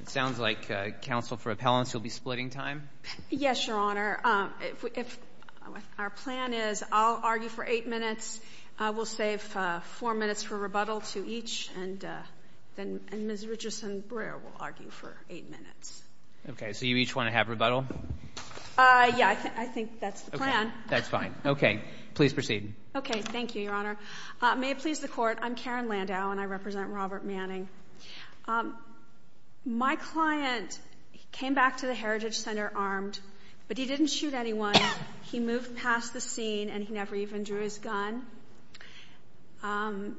It sounds like counsel for appellants will be splitting time. Yes, Your Honor, if our plan is I'll argue for eight minutes, we'll save four minutes for rebuttal to each and then Ms. Richardson-Brayer will argue for eight minutes. Okay, so you each want to have rebuttal? Yeah, I think that's the plan. That's fine. Okay, please proceed. Okay, thank you, Your Honor. May it please the Court, I'm Karen Landau and I represent Robert Manning. My client came back to the Heritage Center armed, but he didn't shoot anyone. He moved past the scene and he never even drew his gun. And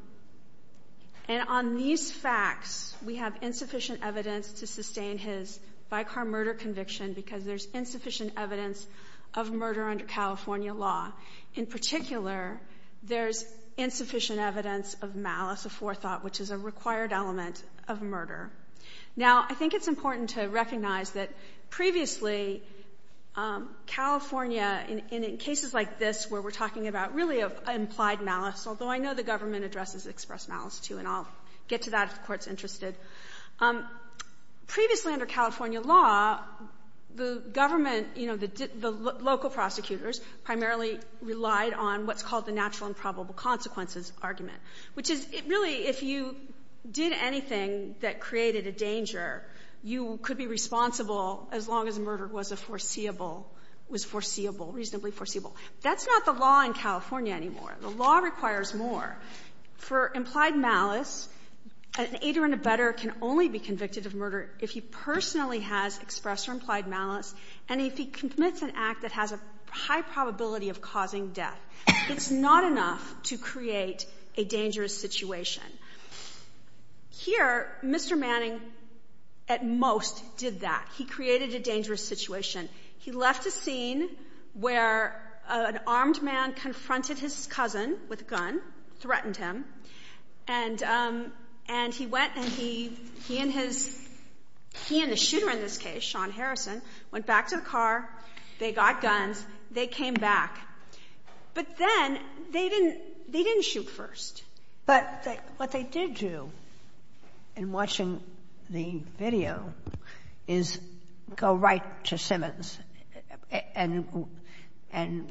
on these facts, we have insufficient evidence to sustain his by-car murder conviction because there's insufficient evidence of murder under California law. In particular, there's insufficient evidence of malice of forethought, which is a required element of murder. Now, I think it's important to recognize that previously, California, in cases like this where we're talking about really implied malice, although I know the government addresses expressed malice, too, and I'll get to that if the Court's interested. Previously under California law, the local prosecutors primarily relied on what's called the natural and probable consequences argument, which is really if you did anything that created a danger, you could be responsible as long as the murder was foreseeable, reasonably foreseeable. That's not the law in California anymore. The law requires more. For implied malice, an aider and abetter can only be convicted of murder if he personally has expressed or implied malice and if he commits an act that has a high probability of causing death. It's not enough to create a dangerous situation. Here, Mr. Manning, at most, did that. He created a dangerous situation. He left a scene where an armed man confronted his cousin with a gun, threatened him, and he went and he and the shooter in this case, Sean Harrison, went back to the car, they got guns, they came back. But then they didn't shoot first. But what they did do in watching the video is go right to Simmons and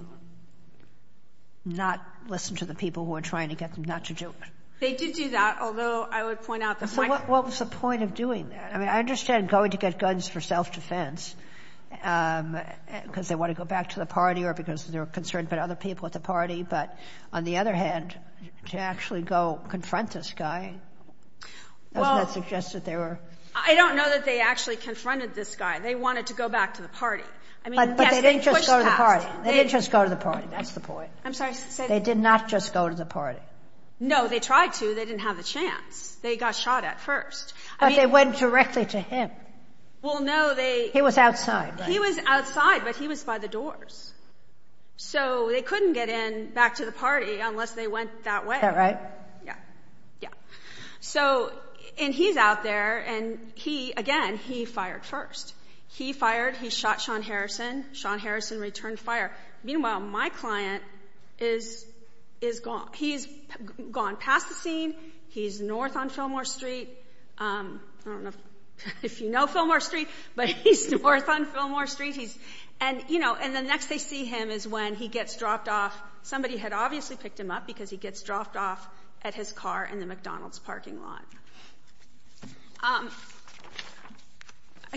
not listen to the people who were trying to get them not to do it. They did do that, although I would point out the fact that they did. But on the other hand, to actually go confront this guy, doesn't that suggest that they were... I don't know that they actually confronted this guy. They wanted to go back to the party. But they didn't just go to the party. They didn't just go to the party. That's the point. I'm sorry. They did not just go to the party. No, they tried to. They didn't have a chance. They got shot at first. But they went directly to him. Well, no, they... He was outside. He was outside, but he was by the doors. So they couldn't get in back to the party unless they went that way. Yeah. So, and he's out there and he, again, he fired first. He fired. He shot Sean Harrison. Sean Harrison returned fire. Meanwhile, my client is gone. He's gone past the scene. He's north on Fillmore Street. I don't know if you know Fillmore Street, but he's north on Fillmore Street. He's... And, you know, and the next they see him is when he gets dropped off. Somebody had obviously picked him up because he gets dropped off at his car in the McDonald's parking lot. I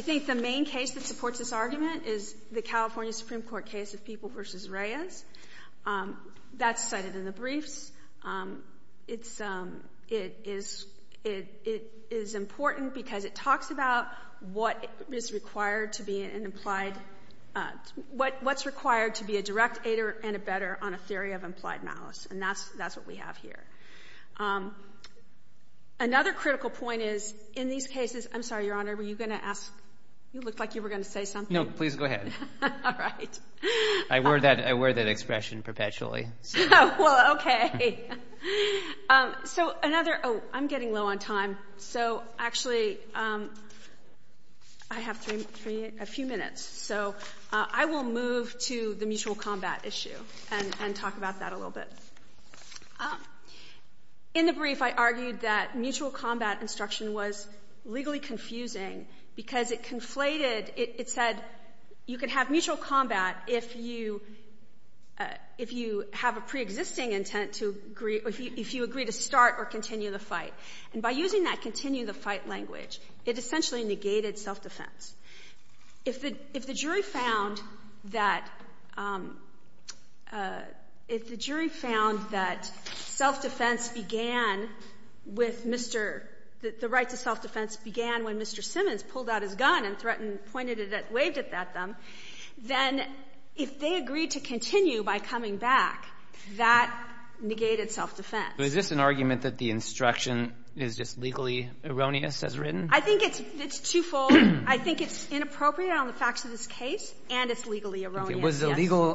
think the main case that supports this argument is the California Supreme Court case of People v. Reyes. That's cited in the briefs. It's... It is important because it talks about what is required to be an implied... What's required to be a direct aider and a better on a theory of implied malice. And that's what we have here. Another critical point is in these cases... I'm sorry, Your Honor, were you going to ask... You looked like you were going to say something. No, please go ahead. All right. I wear that expression perpetually. Well, okay. So, another... Oh, I'm getting low on time. So, actually, I have a few minutes. So, I will move to the mutual combat issue and talk about that a little bit. In the brief, I argued that mutual combat instruction was legally confusing because it conflated... It said you could have mutual combat if you have a preexisting intent to agree... If you agree to start or continue the fight. And by using that continue the fight language, it essentially negated self-defense. If the jury found that... If the jury found that self-defense began with Mr... The rights of self-defense began when Mr. Simmons pulled out his gun and threatened pointed it at, waved it at them, then if they agreed to continue by coming back, that negated self-defense. Is this an argument that the instruction is just legally erroneous as written? I think it's twofold. I think it's inappropriate on the facts of this case and it's legally erroneous, yes.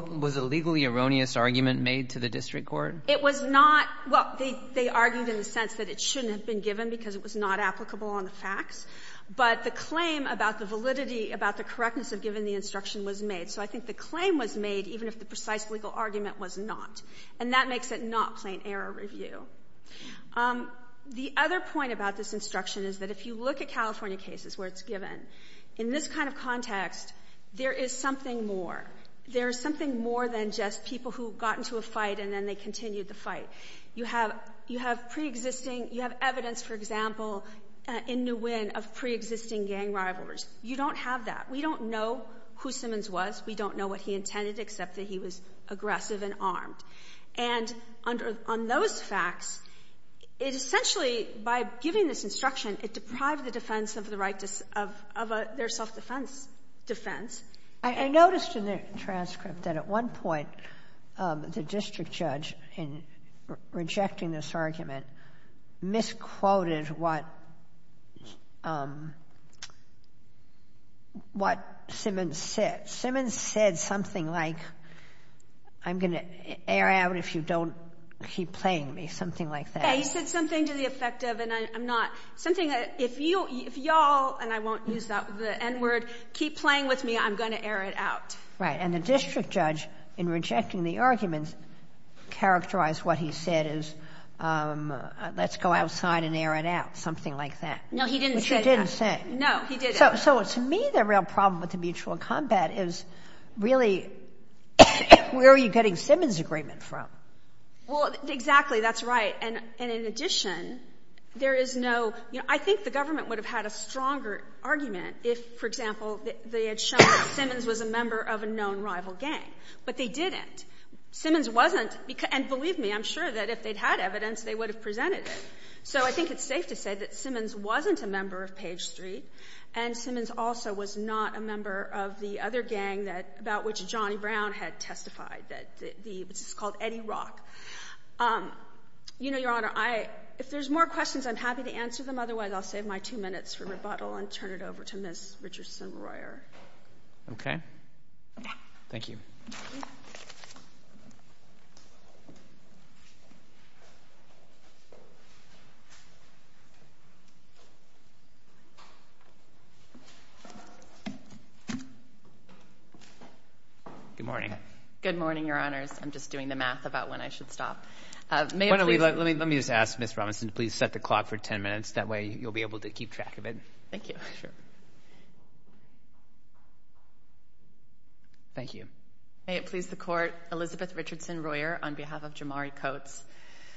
Was a legally erroneous argument made to the district court? It was not. Well, they argued in the sense that it shouldn't have been given because it was not applicable on the facts, but the claim about the validity, about the correctness of giving the instruction was made. So I think the claim was made even if the precise legal argument was not. And that makes it not plain error review. The other point about this instruction is that if you look at California cases where it's given, in this kind of context, there is something more. There is something more than just people who got into a fight and then they continued the fight. You have pre-existing, you have evidence, for example, in Nguyen of pre-existing gang rivalries. You don't have that. We don't know who Simmons was. We don't know what he intended except that he was aggressive and armed. And on those facts, it essentially, by giving this instruction, it deprived the defense of their self-defense defense. I noticed in the transcript that at one point the district judge, in rejecting this argument, misquoted what Simmons said. Simmons said something like, I'm going to air out if you don't keep playing me, something like that. He said something to the effect of, and I'm not, something that if you, if y'all, and I won't use the N-word, keep playing with me, I'm going to air it out. Right. And the district judge, in rejecting the argument, characterized what he said as, let's go outside and air it out, something like that. No, he didn't say that. Which he didn't say. No, he didn't. So to me, the real problem with the mutual combat is really, where are you getting Simmons' agreement from? Well, exactly. That's right. And in addition, there is no, you know, I think the government would have had a stronger argument if, for example, they had shown that Simmons was a member of a known rival gang. But they didn't. Simmons wasn't, and believe me, I'm sure that if they'd had evidence, they would have presented it. So I think it's safe to say that Simmons wasn't a member of Page Street, and Simmons also was not a member of the other gang that, about which Johnny Brown had testified, that the, which is called Eddie Rock. You know, Your Honor, I, if there's more questions, I'm happy to answer them. Otherwise, I'll save my two minutes for rebuttal and turn it over to Ms. Richardson-Royer. Okay. Yeah. Thank you. Good morning. Good morning, Your Honors. I'm just doing the math about when I should stop. Let me just ask Ms. Robinson to please set the clock for ten minutes. That way, you'll be able to keep track of it. Thank you. Sure. Thank you. May it please the Court, Elizabeth Richardson-Royer on behalf of Jamari Coates.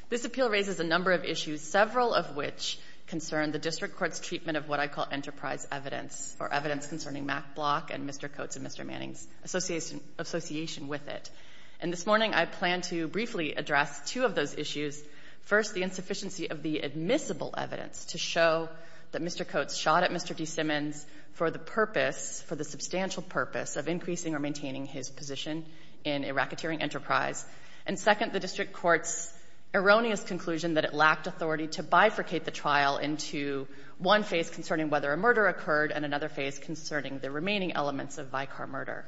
This appeal raises a number of issues, several of which concern the District Court's treatment of what I call enterprise evidence, or evidence concerning Mack Block and Mr. Coates and Mr. And this morning, I plan to briefly address two of those issues. First, the insufficiency of the admissible evidence to show that Mr. Coates shot at Mr. D. Simmons for the purpose, for the substantial purpose, of increasing or maintaining his position in a racketeering enterprise. And second, the District Court's erroneous conclusion that it lacked authority to bifurcate the trial into one phase concerning whether a murder occurred and another phase concerning the remaining elements of Vicar murder.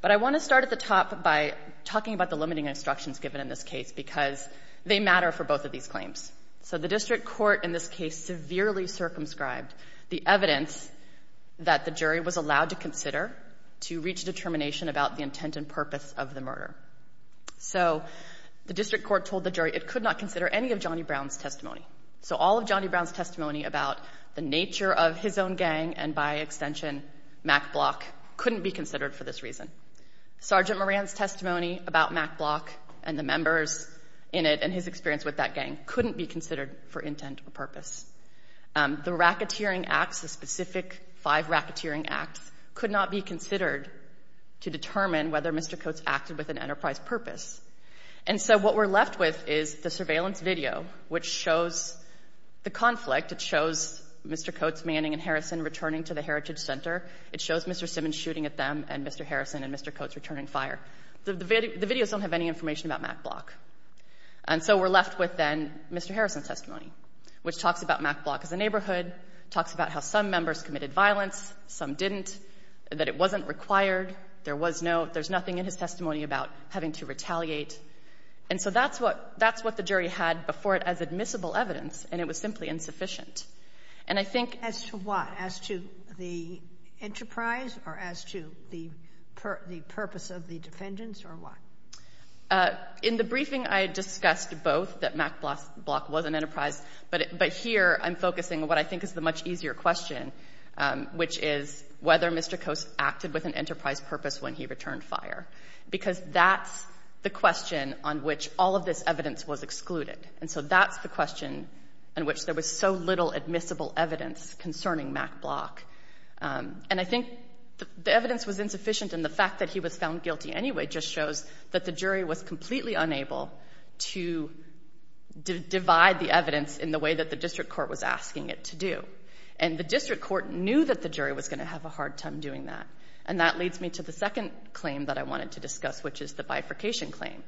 But I want to start at the top by talking about the limiting instructions given in this case because they matter for both of these claims. So the District Court in this case severely circumscribed the evidence that the jury was allowed to consider to reach a determination about the intent and purpose of the murder. So the District Court told the jury it could not consider any of Johnny Brown's testimony. So all of Johnny Brown's testimony about the nature of his own gang and, by extension, Mack Block couldn't be considered for this reason. Sergeant Moran's testimony about Mack Block and the members in it and his experience with that gang couldn't be considered for intent or purpose. The racketeering acts, the specific five racketeering acts, could not be considered to determine whether Mr. Coates acted with an enterprise purpose. And so what we're left with is the surveillance video, which shows the conflict. It shows Mr. Coates, Manning, and Harrison returning to the Heritage Center. It shows Mr. Simmons shooting at them and Mr. Harrison and Mr. Coates returning fire. The videos don't have any information about Mack Block. And so we're left with then Mr. Harrison's testimony, which talks about Mack Block as a neighborhood, talks about how some members committed violence, some didn't, that it wasn't required, there's nothing in his testimony about having to retaliate. And so that's what the jury had before it as admissible evidence, and it was simply insufficient. And I think... As to what? As to the enterprise or as to the purpose of the defendants or what? In the briefing, I discussed both, that Mack Block was an enterprise, but here I'm focusing on what I think is the much easier question, which is whether Mr. Coates acted with an enterprise purpose when he returned fire. Because that's the question on which all of this evidence was excluded. And so that's the question on which there was so little admissible evidence concerning Mack Block. And I think the evidence was insufficient and the fact that he was found guilty anyway just shows that the jury was completely unable to divide the evidence in the way that the district court was asking it to do. And the district court knew that the jury was going to have a hard time doing that. And that leads me to the second claim that I wanted to discuss, which is the bifurcation claim.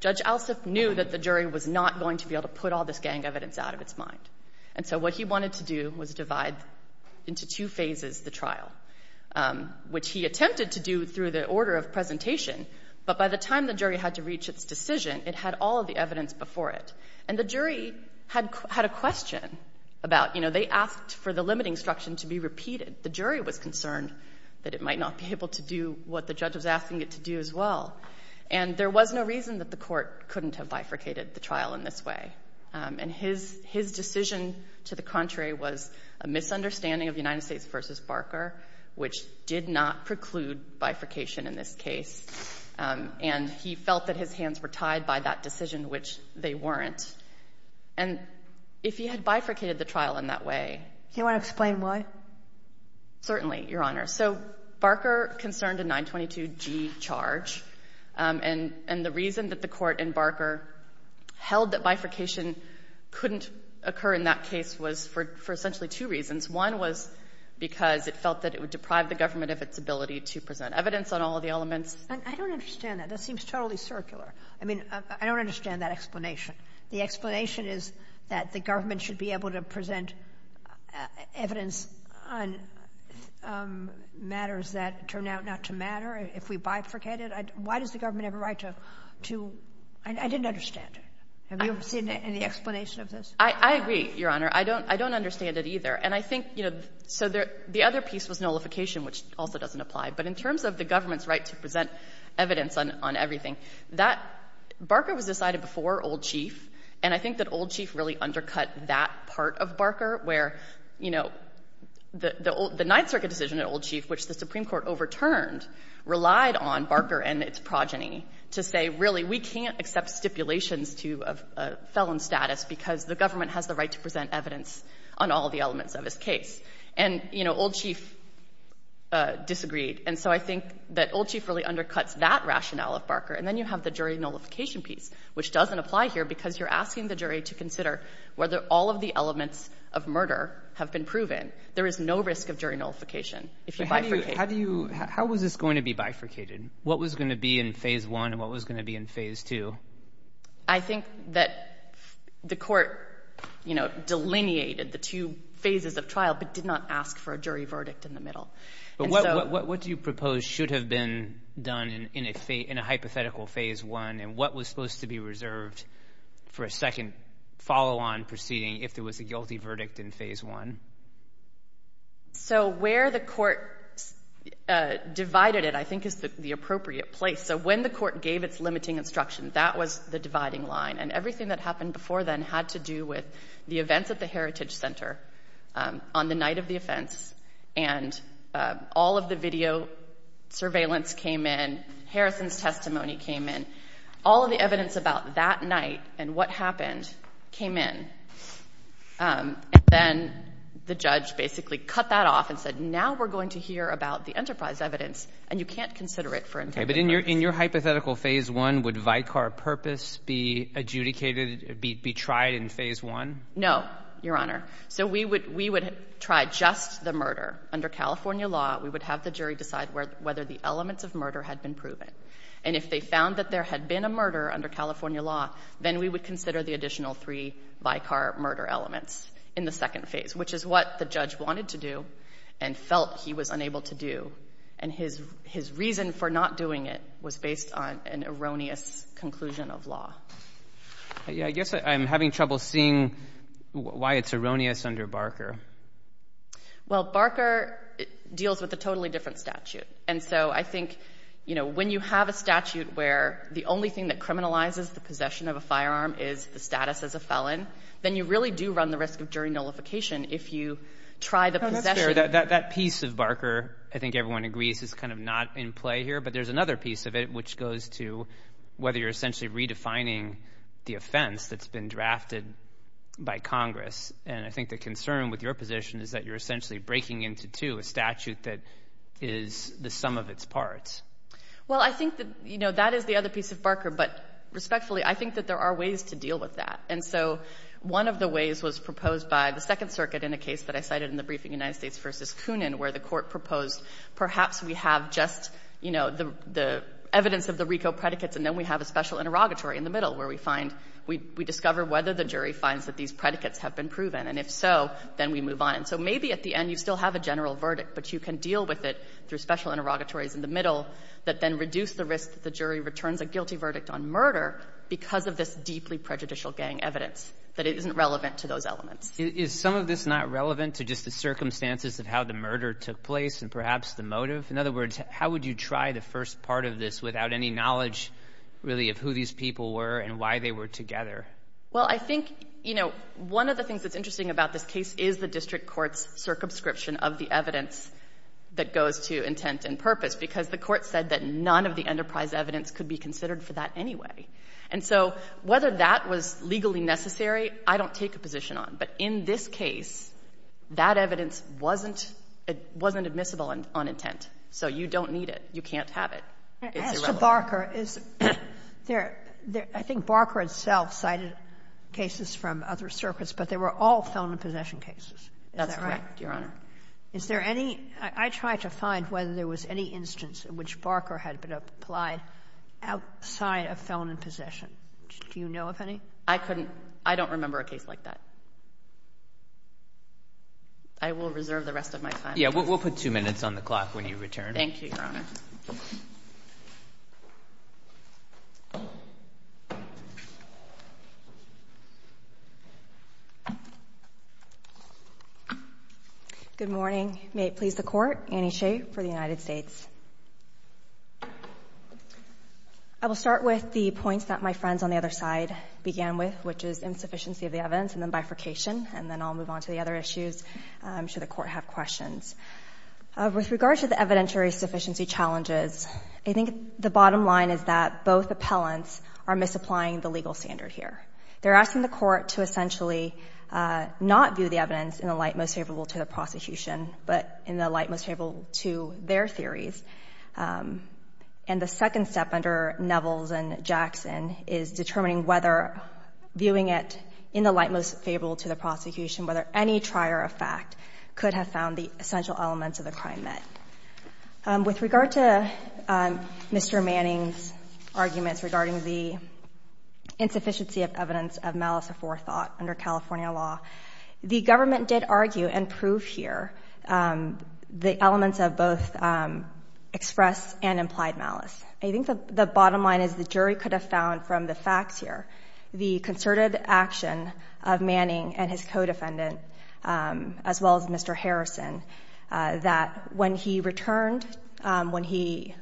Judge Alsup knew that the jury was not going to be able to put all this gang evidence out of its mind. And so what he wanted to do was divide into two phases the trial, which he attempted to do through the order of presentation, but by the time the jury had to reach its decision, it had all of the evidence before it. And the jury had a question about, you know, they asked for the limiting instruction to be repeated. The jury was concerned that it might not be able to do what the judge was asking it to do as well. And there was no reason that the court couldn't have bifurcated the trial in this way. And his decision to the contrary was a misunderstanding of United States v. Barker, which did not preclude bifurcation in this case. And he felt that his hands were tied by that decision, which they weren't. And if he had bifurcated the trial in that way— Do you want to explain why? Certainly, Your Honor. So Barker concerned a 922G charge. And the reason that the court in Barker held that bifurcation couldn't occur in that case was for essentially two reasons. One was because it felt that it would deprive the government of its ability to present evidence on all of the elements. I don't understand that. That seems totally circular. I mean, I don't understand that explanation. The explanation is that the government should be able to present evidence on matters that turn out not to matter if we bifurcate it. Why does the government have a right to—I didn't understand it. Have you seen any explanation of this? I agree, Your Honor. I don't understand it either. And I think, you know, so the other piece was nullification, which also doesn't apply. But in terms of the government's right to present evidence on everything, that—Barker was decided before Old Chief. And I think that Old Chief really undercut that part of Barker, where, you know, the Ninth Circuit decision at Old Chief, which the Supreme Court overturned, relied on Barker and its progeny to say, really, we can't accept stipulations to a felon status because the government has the right to present evidence on all of the elements of his case. And, you know, Old Chief disagreed. And so I think that Old Chief really undercuts that rationale of Barker. And then you have the jury nullification piece, which doesn't apply here because you're asking the jury to consider whether all of the elements of murder have been proven. There is no risk of jury nullification if you bifurcate it. How do you—how was this going to be bifurcated? What was going to be in Phase 1 and what was going to be in Phase 2? I think that the court, you know, delineated the two phases of trial but did not ask for a jury verdict in the middle. But what do you propose should have been done in a hypothetical Phase 1 and what was supposed to be reserved for a second follow-on proceeding if there was a guilty verdict in Phase 1? So where the court divided it, I think, is the appropriate place. So when the court gave its limiting instruction, that was the dividing line. And everything that happened before then had to do with the events at the Heritage Center on the night of the offense. And all of the video surveillance came in. Harrison's testimony came in. All of the evidence about that night and what happened came in. And then the judge basically cut that off and said, now we're going to hear about the enterprise evidence and you can't consider it for integrity. But in your hypothetical Phase 1, would Vicar Purpose be adjudicated, be tried in Phase 1? No, Your Honor. So we would try just the murder. Under California law, we would have the jury decide whether the elements of murder had been proven. And if they found that there had been a murder under California law, then we would consider the additional three Vicar murder elements in the second phase, which is what the judge wanted to do and felt he was unable to do. And his reason for not doing it was based on an erroneous conclusion of law. I guess I'm having trouble seeing why it's erroneous under Barker. Well, Barker deals with a totally different statute. And so I think, you know, when you have a statute where the only thing that criminalizes the possession of a firearm is the status as a felon, then you really do run the risk of jury nullification if you try the possession. That piece of Barker, I think everyone agrees, is kind of not in play here. But there's another piece of it which goes to whether you're essentially redefining the offense that's been drafted by Congress. And I think the concern with your position is that you're essentially breaking into two, a statute that is the sum of its parts. Well, I think that, you know, that is the other piece of Barker. But respectfully, I think that there are ways to deal with that. And so one of the ways was proposed by the Second Circuit in a case that I cited in the where the court proposed perhaps we have just, you know, the evidence of the RICO predicates and then we have a special interrogatory in the middle where we find, we discover whether the jury finds that these predicates have been proven. And if so, then we move on. And so maybe at the end you still have a general verdict, but you can deal with it through special interrogatories in the middle that then reduce the risk that the jury returns a guilty verdict on murder because of this deeply prejudicial gang evidence, that it isn't relevant to those elements. Is some of this not relevant to just the circumstances of how the murder took place and perhaps the motive? In other words, how would you try the first part of this without any knowledge really of who these people were and why they were together? Well, I think, you know, one of the things that's interesting about this case is the district court's circumscription of the evidence that goes to intent and purpose because the court said that none of the enterprise evidence could be considered for that anyway. And so whether that was legally necessary, I don't take a position on. But in this case, that evidence wasn't admissible on intent. So you don't need it. You can't have it. It's irrelevant. As to Barker, is there — I think Barker itself cited cases from other circuits, but they were all felon and possession cases. Is that right? That's correct, Your Honor. Is there any — I tried to find whether there was any instance in which Barker had been applied outside of felon and possession. Do you know of any? I couldn't — I don't remember a case like that. I will reserve the rest of my time. Yeah, we'll put two minutes on the clock when you return. Thank you, Your Honor. Good morning. May it please the Court, Annie Hsieh for the United States. I will start with the points that my friends on the other side began with, which is insufficiency of the evidence and then bifurcation, and then I'll move on to the other issues should the Court have questions. With regard to the evidentiary sufficiency challenges, I think the bottom line is that both appellants are misapplying the legal standard here. They're asking the Court to essentially not view the evidence in the light most favorable to the prosecution, but in the light most favorable to their theories. And the second step under Nevels and Jackson is determining whether viewing it in the light most favorable to the prosecution, whether any trier of fact could have found the essential elements of the crime met. With regard to Mr. Manning's arguments regarding the insufficiency of evidence of malice aforethought under California law, the government did argue and prove here the elements of both express and implied malice. I think the bottom line is the jury could have found from the facts here the concerted action of Manning and his co-defendant, as well as Mr. Harrison, that when he returned, when he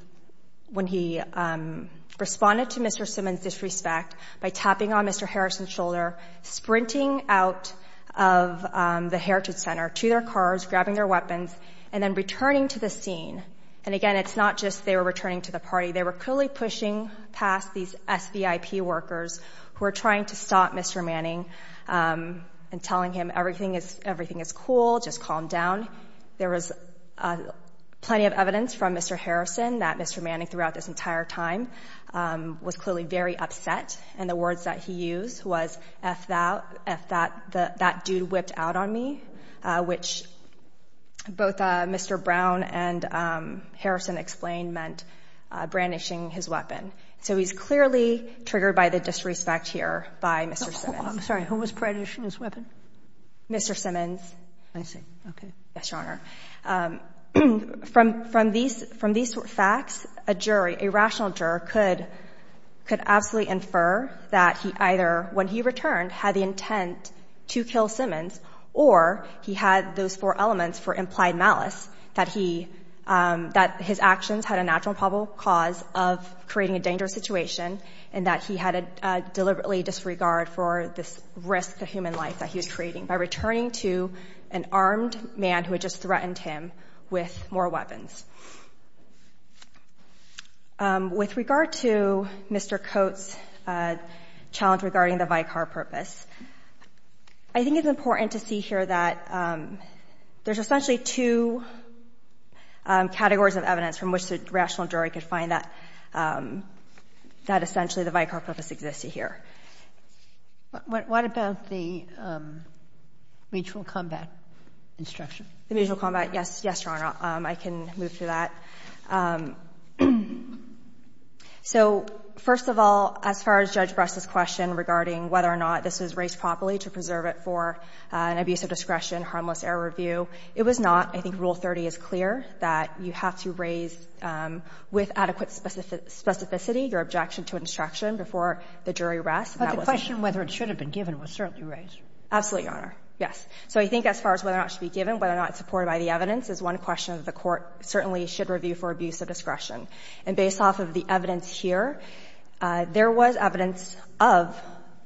responded to Mr. Simmons' disrespect by tapping on Mr. Harrison's shoulder, sprinting out of the Heritage Center to their cars, grabbing their weapons, and then returning to the scene. And again, it's not just they were returning to the party. They were clearly pushing past these SVIP workers who were trying to stop Mr. Manning and telling him everything is cool, just calm down. There was plenty of evidence from Mr. Harrison that Mr. Manning throughout this entire time was clearly very upset. And the words that he used was, if that dude whipped out on me, which both Mr. Brown and Harrison explained meant brandishing his weapon. So he's clearly triggered by the disrespect here by Mr. Simmons. I'm sorry. Who was brandishing his weapon? Mr. Simmons. I see. Okay. Yes, Your Honor. From these facts, a jury, a rational juror, could absolutely infer that he either, when he returned, had the intent to kill Simmons, or he had those four elements for implied malice, that his actions had a natural and probable cause of creating a dangerous situation and that he had a deliberately disregard for this risk to human life that he was creating. By returning to an armed man who had just threatened him with more weapons. With regard to Mr. Coates' challenge regarding the vicar purpose, I think it's important to see here that there's essentially two categories of evidence from which the rational jury could find that essentially the vicar purpose existed here. What about the mutual combat instruction? The mutual combat, yes. Yes, Your Honor. I can move to that. So, first of all, as far as Judge Brest's question regarding whether or not this was raised properly to preserve it for an abuse of discretion, harmless error review, it was not. I think Rule 30 is clear that you have to raise, with adequate specificity, your objection to instruction before the jury rests. But the question whether it should have been given was certainly raised. Absolutely, Your Honor. Yes. So I think as far as whether or not it should be given, whether or not it's supported by the evidence, is one question that the Court certainly should review for abuse of discretion. And based off of the evidence here, there was evidence of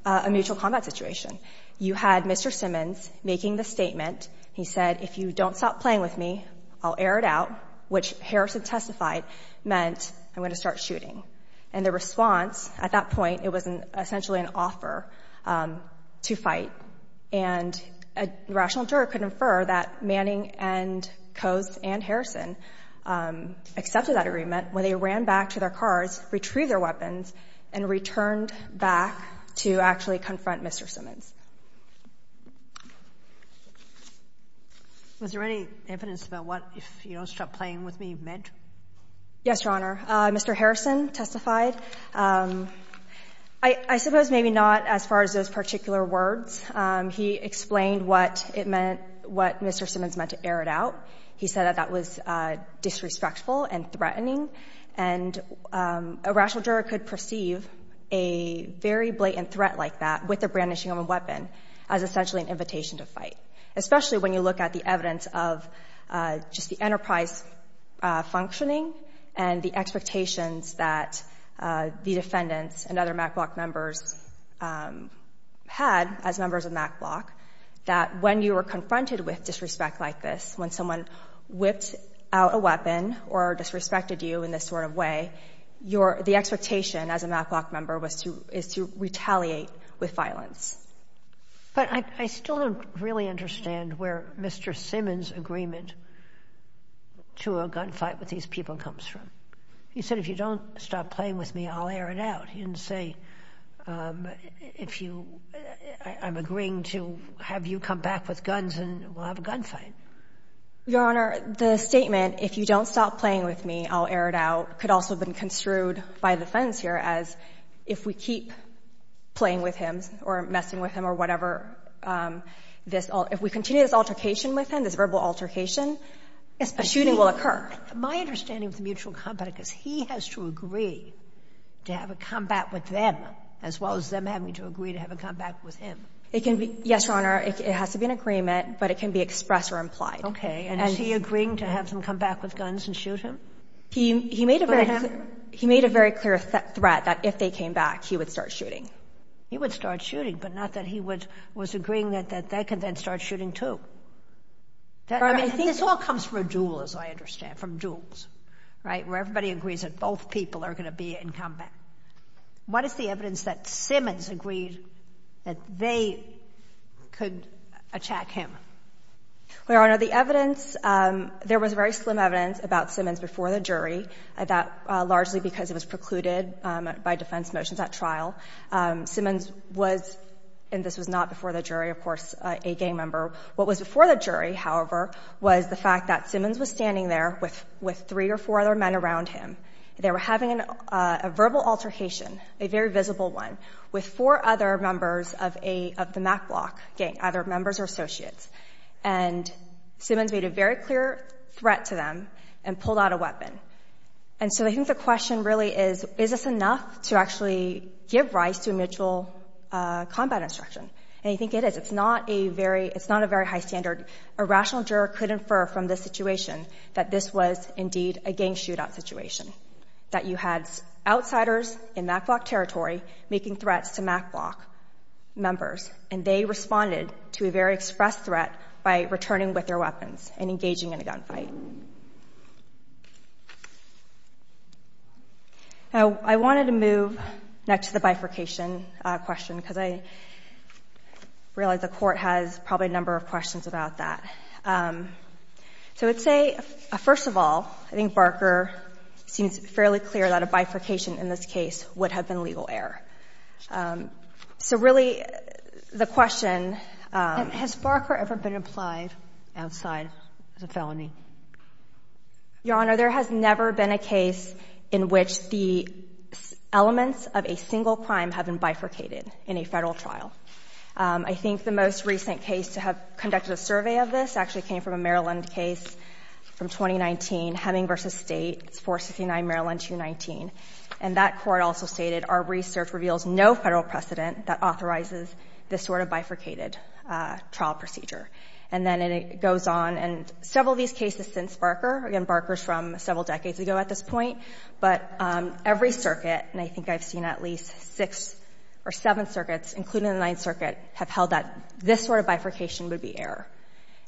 a mutual combat situation. You had Mr. Simmons making the statement. He said, if you don't stop playing with me, I'll air it out, which Harrison testified meant I'm going to start shooting. And the response at that point, it was essentially an offer to fight. And a rational juror could infer that Manning and Coase and Harrison accepted that agreement when they ran back to their cars, retrieved their weapons, and returned back to actually confront Mr. Simmons. Was there any evidence about what, if you don't stop playing with me, meant? Yes, Your Honor. Mr. Harrison testified. I suppose maybe not as far as those particular words. He explained what it meant, what Mr. Simmons meant to air it out. He said that that was disrespectful and threatening. And a rational juror could perceive a very blatant threat like that with the brandishing of a weapon as essentially an invitation to fight, especially when you look at the enterprise functioning and the expectations that the defendants and other MacBlock members had as members of MacBlock, that when you were confronted with disrespect like this, when someone whipped out a weapon or disrespected you in this sort of way, the expectation as a MacBlock member was to retaliate with violence. But I still don't really understand where Mr. Simmons' agreement to a gunfight with these people comes from. He said, if you don't stop playing with me, I'll air it out. He didn't say, I'm agreeing to have you come back with guns and we'll have a gunfight. Your Honor, the statement, if you don't stop playing with me, I'll air it out, could also have been construed by the defense here as if we keep playing with him or messing with him or whatever, if we continue this altercation with him, this verbal altercation, a shooting will occur. My understanding of the mutual combat is he has to agree to have a combat with them as well as them having to agree to have a combat with him. Yes, Your Honor. It has to be an agreement, but it can be expressed or implied. Okay. And is he agreeing to have them come back with guns and shoot him? He made a very clear threat that if they came back, he would start shooting. He would start shooting, but not that he was agreeing that they could then start shooting too. This all comes from a duel, as I understand, from duels, right, where everybody agrees that both people are going to be in combat. What is the evidence that Simmons agreed that they could attack him? Your Honor, the evidence, there was very slim evidence about Simmons before the jury, largely because it was precluded by defense motions at trial. Simmons was, and this was not before the jury, of course, a gang member. What was before the jury, however, was the fact that Simmons was standing there with three or four other men around him. They were having a verbal altercation, a very visible one, with four other members of the MacBlock gang, either members or associates. And Simmons made a very clear threat to them and pulled out a weapon. And so I think the question really is, is this enough to actually give rise to a mutual combat instruction? And I think it is. It's not a very high standard. A rational juror could infer from this situation that this was indeed a gang shootout situation, that you had outsiders in MacBlock territory making threats to MacBlock members, and they responded to a very express threat by returning with their weapons and engaging in a gunfight. Now, I wanted to move next to the bifurcation question, because I realize the Court has probably a number of questions about that. So I would say, first of all, I think Barker seems fairly clear that a bifurcation in this case would have been legal error. So really, the question— Has Barker ever been applied outside as a felony? Your Honor, there has never been a case in which the elements of a single crime have been bifurcated in a Federal trial. I think the most recent case to have conducted a survey of this actually came from a Maryland case from 2019, Hemming v. State, 469 Maryland 219. And that court also stated, Our research reveals no Federal precedent that authorizes this sort of bifurcated trial procedure. And then it goes on. And several of these cases since Barker—again, Barker's from several decades ago at this point— but every circuit, and I think I've seen at least six or seven circuits, including the Ninth Circuit, have held that this sort of bifurcation would be error.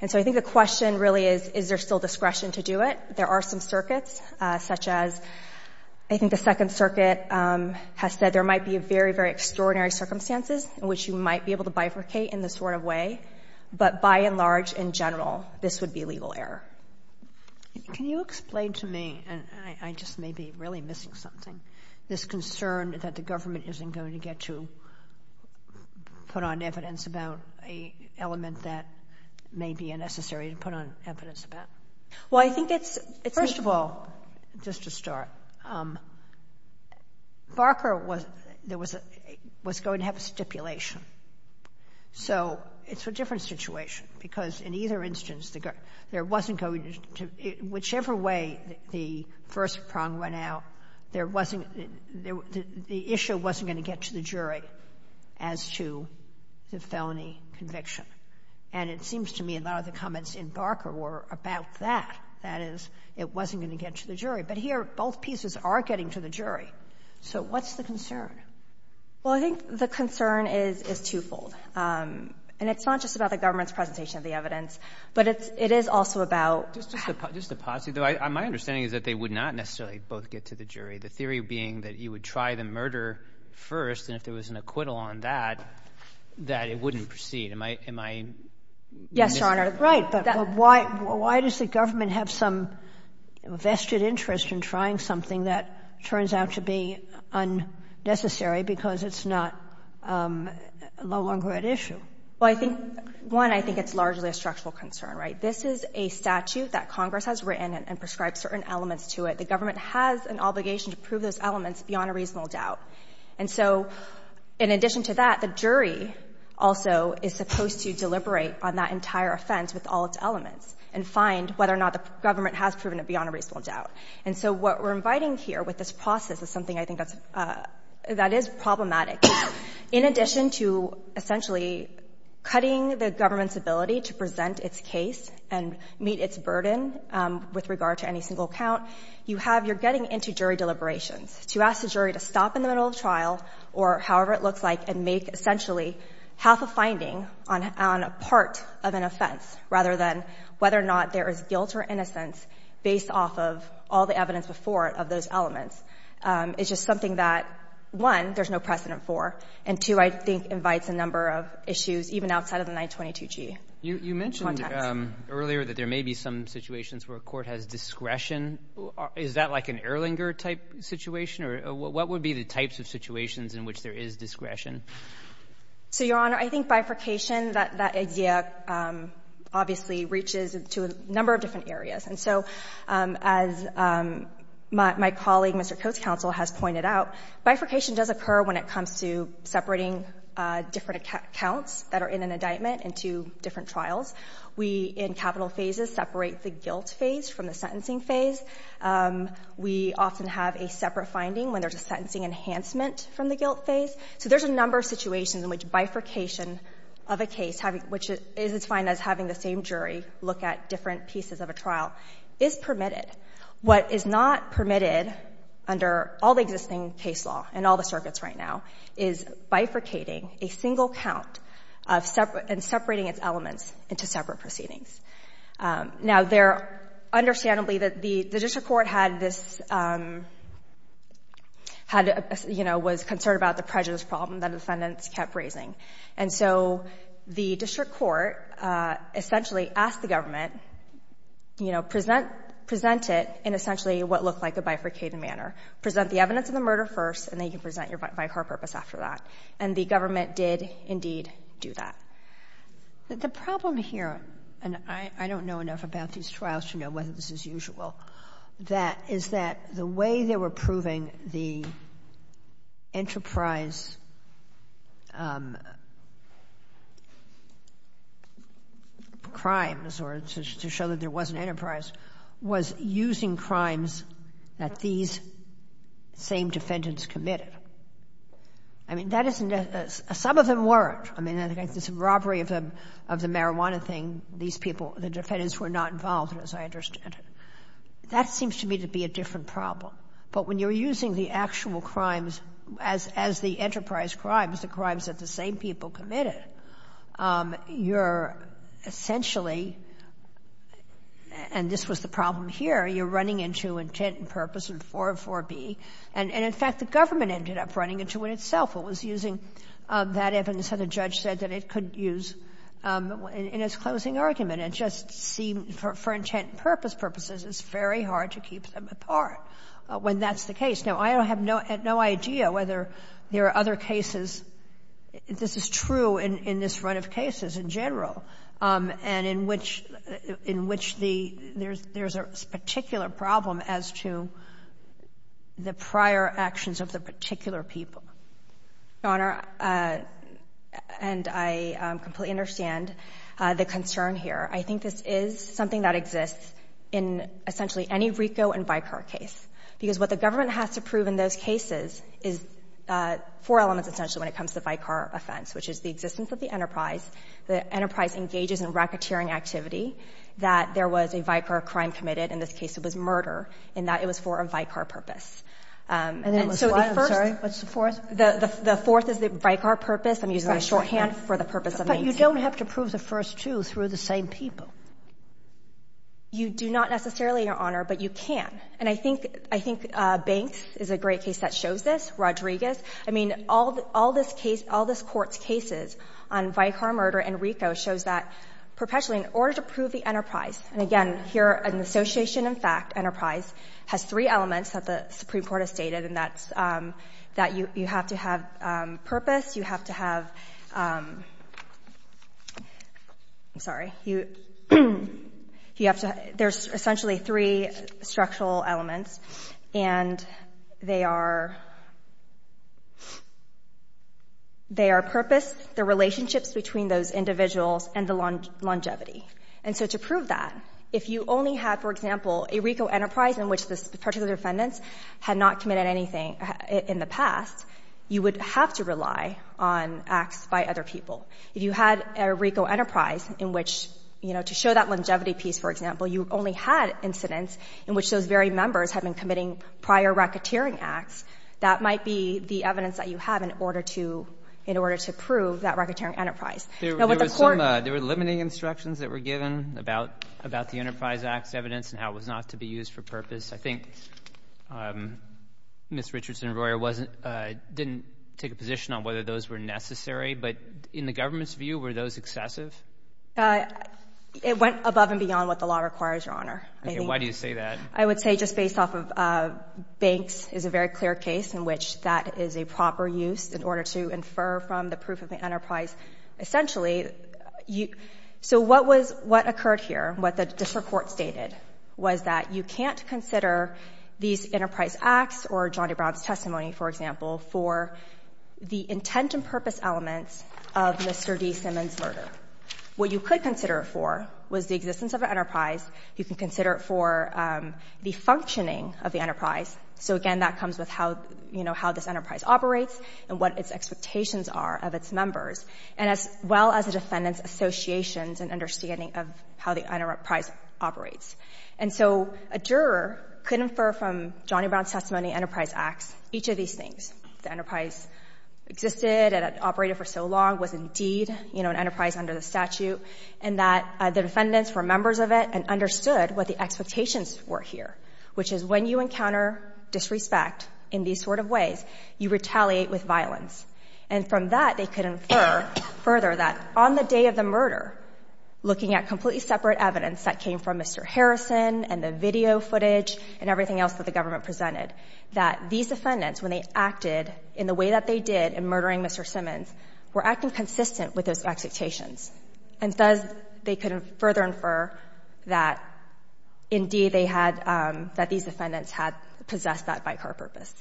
And so I think the question really is, is there still discretion to do it? There are some circuits, such as—I think the Second Circuit has said there might be very, very extraordinary circumstances in which you might be able to bifurcate in this sort of way. But by and large, in general, this would be legal error. Can you explain to me—and I just may be really missing something— this concern that the government isn't going to get to put on evidence about an element that may be unnecessary to put on evidence about? Well, I think it's— First of all, just to start, Barker was going to have a stipulation. So it's a different situation, because in either instance, there wasn't going to—whichever way the first prong went out, there wasn't—the issue wasn't going to get to the jury as to the felony conviction. And it seems to me a lot of the comments in Barker were about that. That is, it wasn't going to get to the jury. But here, both pieces are getting to the jury. So what's the concern? Well, I think the concern is twofold. And it's not just about the government's presentation of the evidence, but it is also about— Just a positive, though. My understanding is that they would not necessarily both get to the jury, the theory being that you would try the murder first, and if there was an acquittal on that, that it wouldn't proceed. Am I— Yes, Your Honor. Right. But why does the government have some vested interest in trying something that turns out to be unnecessary because it's no longer at issue? Well, I think, one, I think it's largely a structural concern, right? This is a statute that Congress has written and prescribed certain elements to it. The government has an obligation to prove those elements beyond a reasonable doubt. And so in addition to that, the jury also is supposed to deliberate on that entire offense with all its elements and find whether or not the government has proven it beyond a reasonable doubt. And so what we're inviting here with this process is something I think that's — that is problematic. In addition to essentially cutting the government's ability to present its case and meet its burden with regard to any single count, you have — you're getting into jury deliberations to ask the jury to stop in the middle of the trial or however it looks like and make half a finding on a part of an offense rather than whether or not there is guilt or innocence based off of all the evidence before it of those elements. It's just something that, one, there's no precedent for, and two, I think invites a number of issues even outside of the 922g context. You mentioned earlier that there may be some situations where a court has discretion. Is that like an Erlinger-type situation? Or what would be the types of situations in which there is discretion? So, Your Honor, I think bifurcation, that idea obviously reaches to a number of different areas. And so as my colleague, Mr. Coates' counsel, has pointed out, bifurcation does occur when it comes to separating different accounts that are in an indictment into different trials. We, in capital phases, separate the guilt phase from the sentencing phase. We often have a separate finding when there's a sentencing enhancement from the guilt phase. So there's a number of situations in which bifurcation of a case, which is defined as having the same jury look at different pieces of a trial, is permitted. What is not permitted under all the existing case law and all the circuits right now is bifurcating a single count and separating its elements into separate proceedings. Now, understandably, the district court was concerned about the prejudice problem that defendants kept raising. And so the district court essentially asked the government, present it in essentially what looked like a bifurcated manner. Present the evidence of the murder first, and then you can present your bifurcated purpose after that. And the government did, indeed, do that. The problem here, and I don't know enough about these trials to know whether this is usual, that is that the way they were proving the enterprise crimes, or to show that there was an enterprise, was using crimes that these same defendants committed. I mean, that isn't, some of them weren't. I mean, I think this robbery of the marijuana thing, these people, the defendants were not involved, as I understand it. That seems to me to be a different problem. But when you're using the actual crimes as the enterprise crimes, the crimes that the same people committed, you're essentially, and this was the problem here, you're running into intent and purpose and 404B. And, in fact, the government ended up running into it itself. It was using that evidence that the judge said that it could use in its closing argument. It just seemed, for intent and purpose purposes, it's very hard to keep them apart when that's the case. Now, I have no idea whether there are other cases, this is true in this run of cases in general, and in which there's a particular problem as to the prior actions of the government. Your Honor, and I completely understand the concern here, I think this is something that exists in essentially any RICO and VICAR case. Because what the government has to prove in those cases is four elements, essentially, when it comes to the VICAR offense, which is the existence of the enterprise, the enterprise engages in racketeering activity, that there was a VICAR crime committed, in this case it was murder, and that it was for a VICAR purpose. And then it was what, I'm sorry? What's the fourth? The fourth is the VICAR purpose, I'm using a shorthand for the purpose of the incident. But you don't have to prove the first two through the same people. You do not necessarily, Your Honor, but you can. And I think Banks is a great case that shows this, Rodriguez. I mean, all this case, all this Court's cases on VICAR murder and RICO shows that perpetually, in order to prove the enterprise, and again, here an association, in fact, enterprise has three elements that the Supreme Court has stated, and that's that you have to have purpose, you have to have, I'm sorry, you have to have, there's essentially three structural elements, and they are purpose, the relationships between those individuals, and the longevity. And so to prove that, if you only had, for example, a RICO enterprise in which the particular defendants had not committed anything in the past, you would have to rely on acts by other people. If you had a RICO enterprise in which, you know, to show that longevity piece, for example, you only had incidents in which those very members had been committing prior racketeering acts, that might be the evidence that you have in order to prove that racketeering enterprise. There were limiting instructions that were given about the Enterprise Act's evidence and how it was not to be used for purpose. I think Ms. Richardson-Royer didn't take a position on whether those were necessary, but in the government's view, were those excessive? It went above and beyond what the law requires, Your Honor. Okay. Why do you say that? I would say just based off of banks is a very clear case in which that is a proper use in order to infer from the proof of the enterprise. Essentially, you — so what was — what occurred here, what the district court stated, was that you can't consider these enterprise acts or John A. Brown's testimony, for example, for the intent and purpose elements of Mr. D. Simmons' murder. What you could consider it for was the existence of an enterprise. You can consider it for the functioning of the enterprise. So, again, that comes with how, you know, how this enterprise operates and what its expectations are of its members, and as well as the defendant's associations and understanding of how the enterprise operates. And so a juror could infer from John A. Brown's testimony, Enterprise Acts, each of these things. The enterprise existed and it operated for so long, was indeed, you know, an enterprise under the statute, and that the defendants were members of it and understood what the expectations were here, which is when you encounter disrespect in these sort of ways, you retaliate with violence. And from that, they could infer further that on the day of the murder, looking at completely separate evidence that came from Mr. Harrison and the video footage and everything else that the government presented, that these defendants, when they acted in the way that they did in murdering Mr. Simmons, were acting consistent with those expectations. And thus, they could further infer that, indeed, they had — that these defendants had possessed that by car purpose.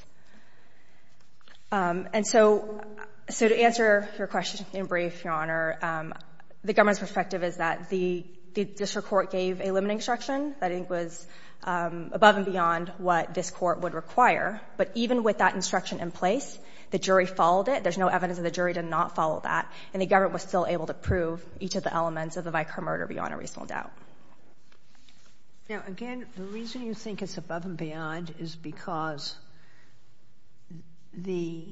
And so to answer your question in brief, Your Honor, the government's perspective is that the district court gave a limiting instruction that I think was above and beyond what this court would require, but even with that instruction in place, the jury followed it. There's no evidence that the jury did not follow that, and the government was still able to prove each of the elements of the Vicar murder beyond a reasonable doubt. Now, again, the reason you think it's above and beyond is because the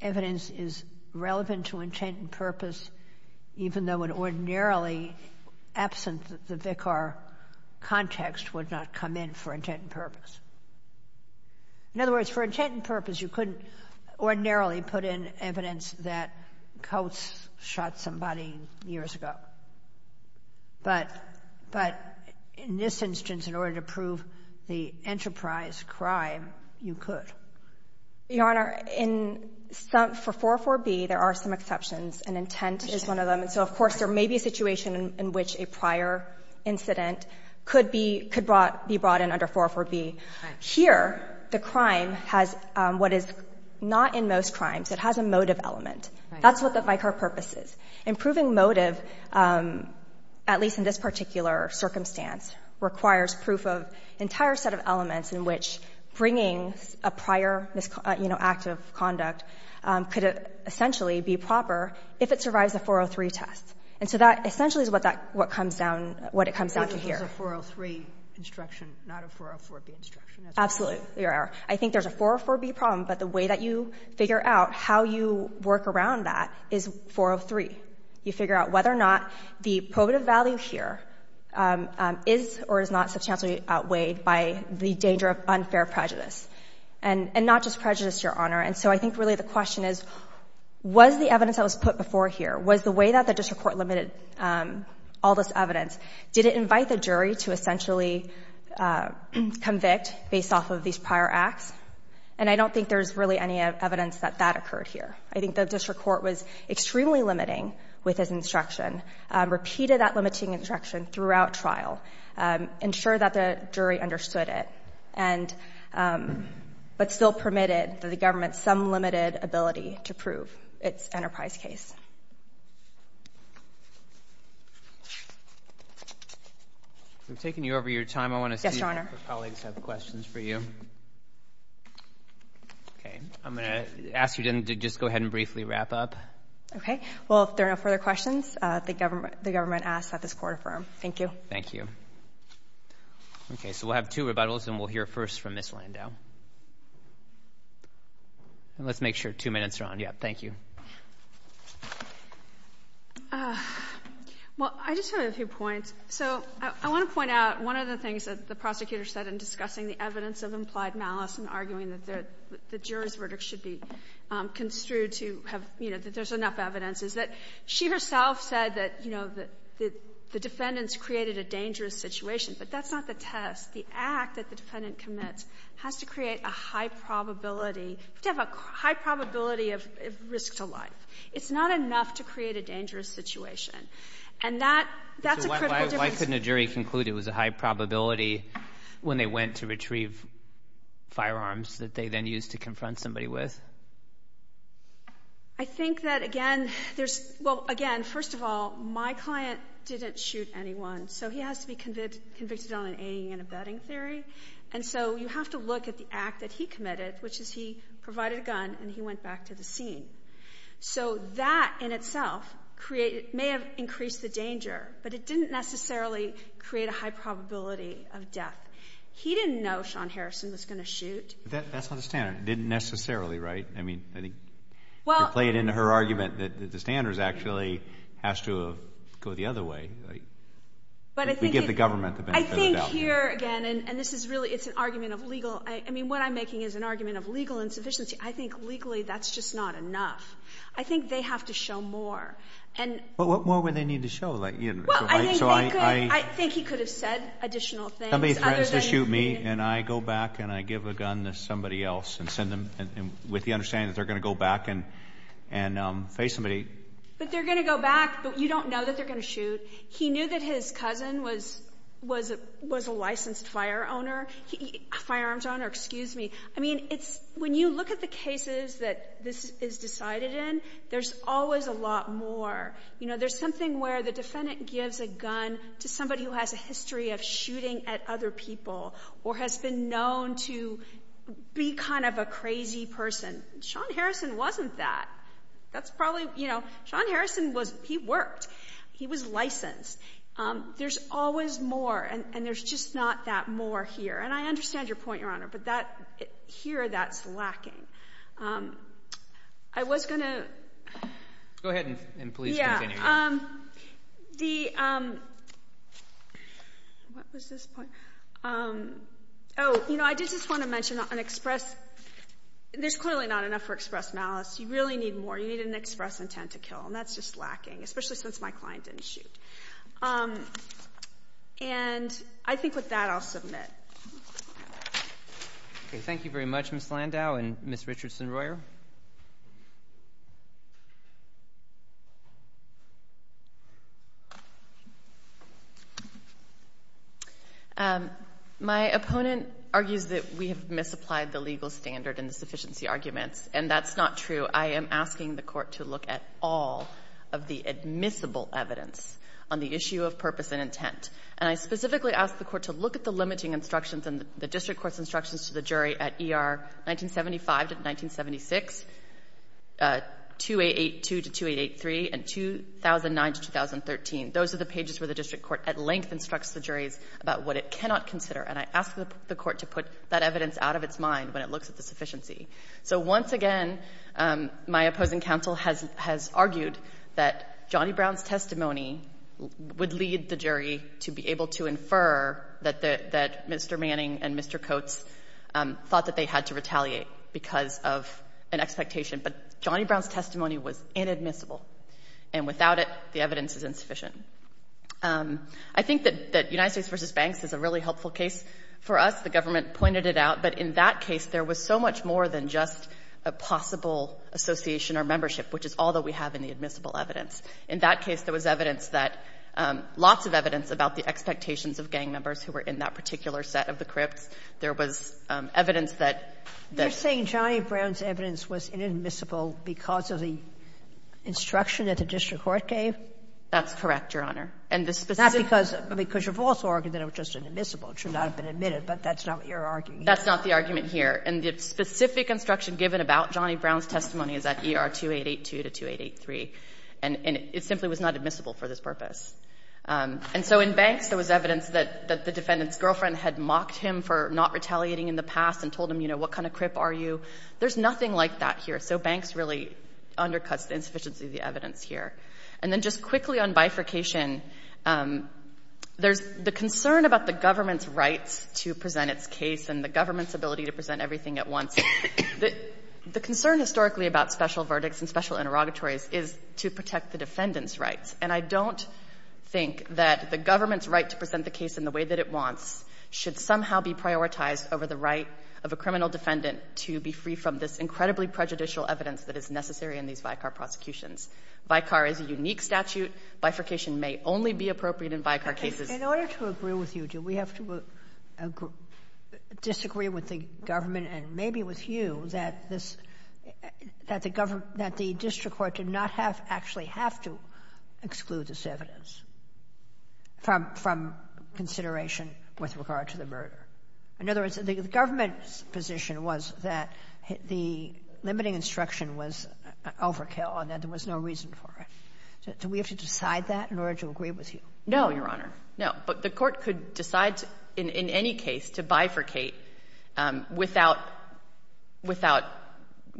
evidence is relevant to intent and purpose, even though it ordinarily, absent the Vicar context, would not come in for intent and purpose. In other words, for intent and purpose, you couldn't ordinarily put in evidence that Coates shot somebody years ago. But in this instance, in order to prove the enterprise crime, you could. Your Honor, in some — for 404b, there are some exceptions, and intent is one of them. And so, of course, there may be a situation in which a prior incident could be brought in under 404b. Here, the crime has what is not in most crimes. It has a motive element. That's what the Vicar purpose is. Improving motive, at least in this particular circumstance, requires proof of an entire set of elements in which bringing a prior, you know, act of conduct could essentially be proper if it survives a 403 test. And so that essentially is what that — what comes down — what it comes down to here. I think there's a 403 instruction, not a 404b instruction. Absolutely, Your Honor. I think there's a 404b problem, but the way that you figure out how you work around that is 403. You figure out whether or not the probative value here is or is not substantially outweighed by the danger of unfair prejudice, and not just prejudice, Your Honor. And so I think, really, the question is, was the evidence that was put before here, was the way that the district court limited all this evidence, did it invite the jury to essentially convict based off of these prior acts? And I don't think there's really any evidence that that occurred here. I think the district court was extremely limiting with its instruction, repeated that limiting instruction throughout trial, ensured that the jury understood it, but still permitted the government some limited ability to prove its enterprise case. We've taken you over your time. I want to see if our colleagues have questions for you. Okay. I'm going to ask you to just go ahead and briefly wrap up. Okay. Well, if there are no further questions, the government asks that this court affirm. Thank you. Thank you. Okay. So we'll have two rebuttals, and we'll hear first from Ms. Landau. Let's make sure two minutes are on. Yeah. Thank you. Well, I just have a few points. So I want to point out one of the things that the prosecutor said in discussing the evidence of implied malice and arguing that the jury's verdict should be construed to have, you know, that there's enough evidence, is that she herself said that, you know, that the defendants created a dangerous situation, but that's not the test. The act that the defendant commits has to create a high probability, to have a high probability of risk to life. It's not enough to create a dangerous situation. And that's a critical difference. So why couldn't a jury conclude it was a high probability when they went to retrieve firearms that they then used to confront somebody with? I think that, again, there's—well, again, first of all, my client didn't shoot anyone, so he has to be convicted on an aiding and abetting theory. And so you have to look at the act that he committed, which is he provided a gun and he went back to the scene. So that in itself may have increased the danger, but it didn't necessarily create a high probability of death. He didn't know Sean Harrison was going to shoot. That's not the standard. That didn't necessarily, right? I mean, to play it into her argument that the standard actually has to go the other way. We give the government the benefit of the doubt. I think here, again, and this is really—it's an argument of legal—I mean, what I'm making is an argument of legal insufficiency. I think legally that's just not enough. I think they have to show more. But what more would they need to show? Well, I think he could have said additional things other than— with the understanding that they're going to go back and face somebody. But they're going to go back, but you don't know that they're going to shoot. He knew that his cousin was a licensed firearms owner. I mean, when you look at the cases that this is decided in, there's always a lot more. You know, there's something where the defendant gives a gun to somebody who has a kind of a crazy person. Sean Harrison wasn't that. That's probably—you know, Sean Harrison was—he worked. He was licensed. There's always more, and there's just not that more here. And I understand your point, Your Honor, but that—here, that's lacking. I was going to— Go ahead and please continue. Yeah. The—what was this point? Oh, you know, I did just want to mention an express— there's clearly not enough for express malice. You really need more. You need an express intent to kill, and that's just lacking, especially since my client didn't shoot. And I think with that, I'll submit. Okay. Thank you very much, Ms. Landau and Ms. Richardson-Royer. My opponent argues that we have misapplied the legal standard and the sufficiency arguments, and that's not true. I am asking the Court to look at all of the admissible evidence on the issue of purpose and intent. And I specifically ask the Court to look at the limiting instructions and the district court's instructions to the jury at ER 1975 to 1976, 2882 to 2883, and 2009 to 2013. Those are the pages where the district court at length instructs the juries about what it cannot consider, and I ask the Court to put that evidence out of its mind when it looks at the sufficiency. So once again, my opposing counsel has argued that Johnny Brown's testimony would lead the jury to be able to infer that Mr. Manning and Mr. Coates thought that they had to retaliate because of an expectation, but Johnny Brown's testimony was inadmissible, and without it, the evidence is insufficient. I think that United States v. Banks is a really helpful case for us. The government pointed it out, but in that case, there was so much more than just a possible association or membership, which is all that we have in the admissible evidence. In that case, there was evidence that — lots of evidence about the expectations of gang members who were in that particular set of the crypts. There was evidence that — Sotomayor You're saying Johnny Brown's evidence was inadmissible because of the instruction that the district court gave? That's correct, Your Honor. And the specific — Not because you've also argued that it was just inadmissible. It should not have been admitted, but that's not what you're arguing. That's not the argument here. And the specific instruction given about Johnny Brown's testimony is at ER 2882 to 2883. And it simply was not admissible for this purpose. And so in Banks, there was evidence that the defendant's girlfriend had mocked him for not retaliating in the past and told him, you know, what kind of crip are you? There's nothing like that here. So Banks really undercuts the insufficiency of the evidence here. And then just quickly on bifurcation, there's the concern about the government's rights to present its case and the government's ability to present everything at once. The concern historically about special verdicts and special interrogatories is to protect the defendant's rights. And I don't think that the government's right to present the case in the way that it wants should somehow be prioritized over the right of a criminal defendant to be free from this incredibly prejudicial evidence that is necessary in these VICAR prosecutions. VICAR is a unique statute. Bifurcation may only be appropriate in VICAR cases. In order to agree with you, do we have to disagree with the government and maybe with you that this, that the district court did not have, actually have to exclude this evidence from consideration with regard to the murder? In other words, the government's position was that the limiting instruction was overkill and that there was no reason for it. Do we have to decide that in order to agree with you? No, Your Honor, no. But the court could decide in any case to bifurcate without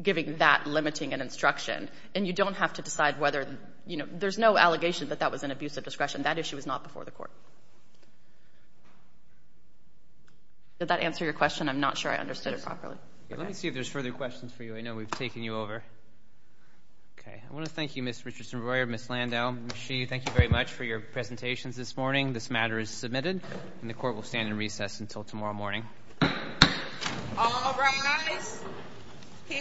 giving that limiting instruction. And you don't have to decide whether, you know, there's no allegation that that was an abuse of discretion. That issue was not before the court. Did that answer your question? I'm not sure I understood it properly. Let me see if there's further questions for you. I know we've taken you over. Okay. I want to thank you, Ms. Richardson-Royer, Ms. Landau, Ms. Sheehy. Thank you very much for your presentations this morning. This matter is submitted, and the court will stand in recess until tomorrow morning. All rise.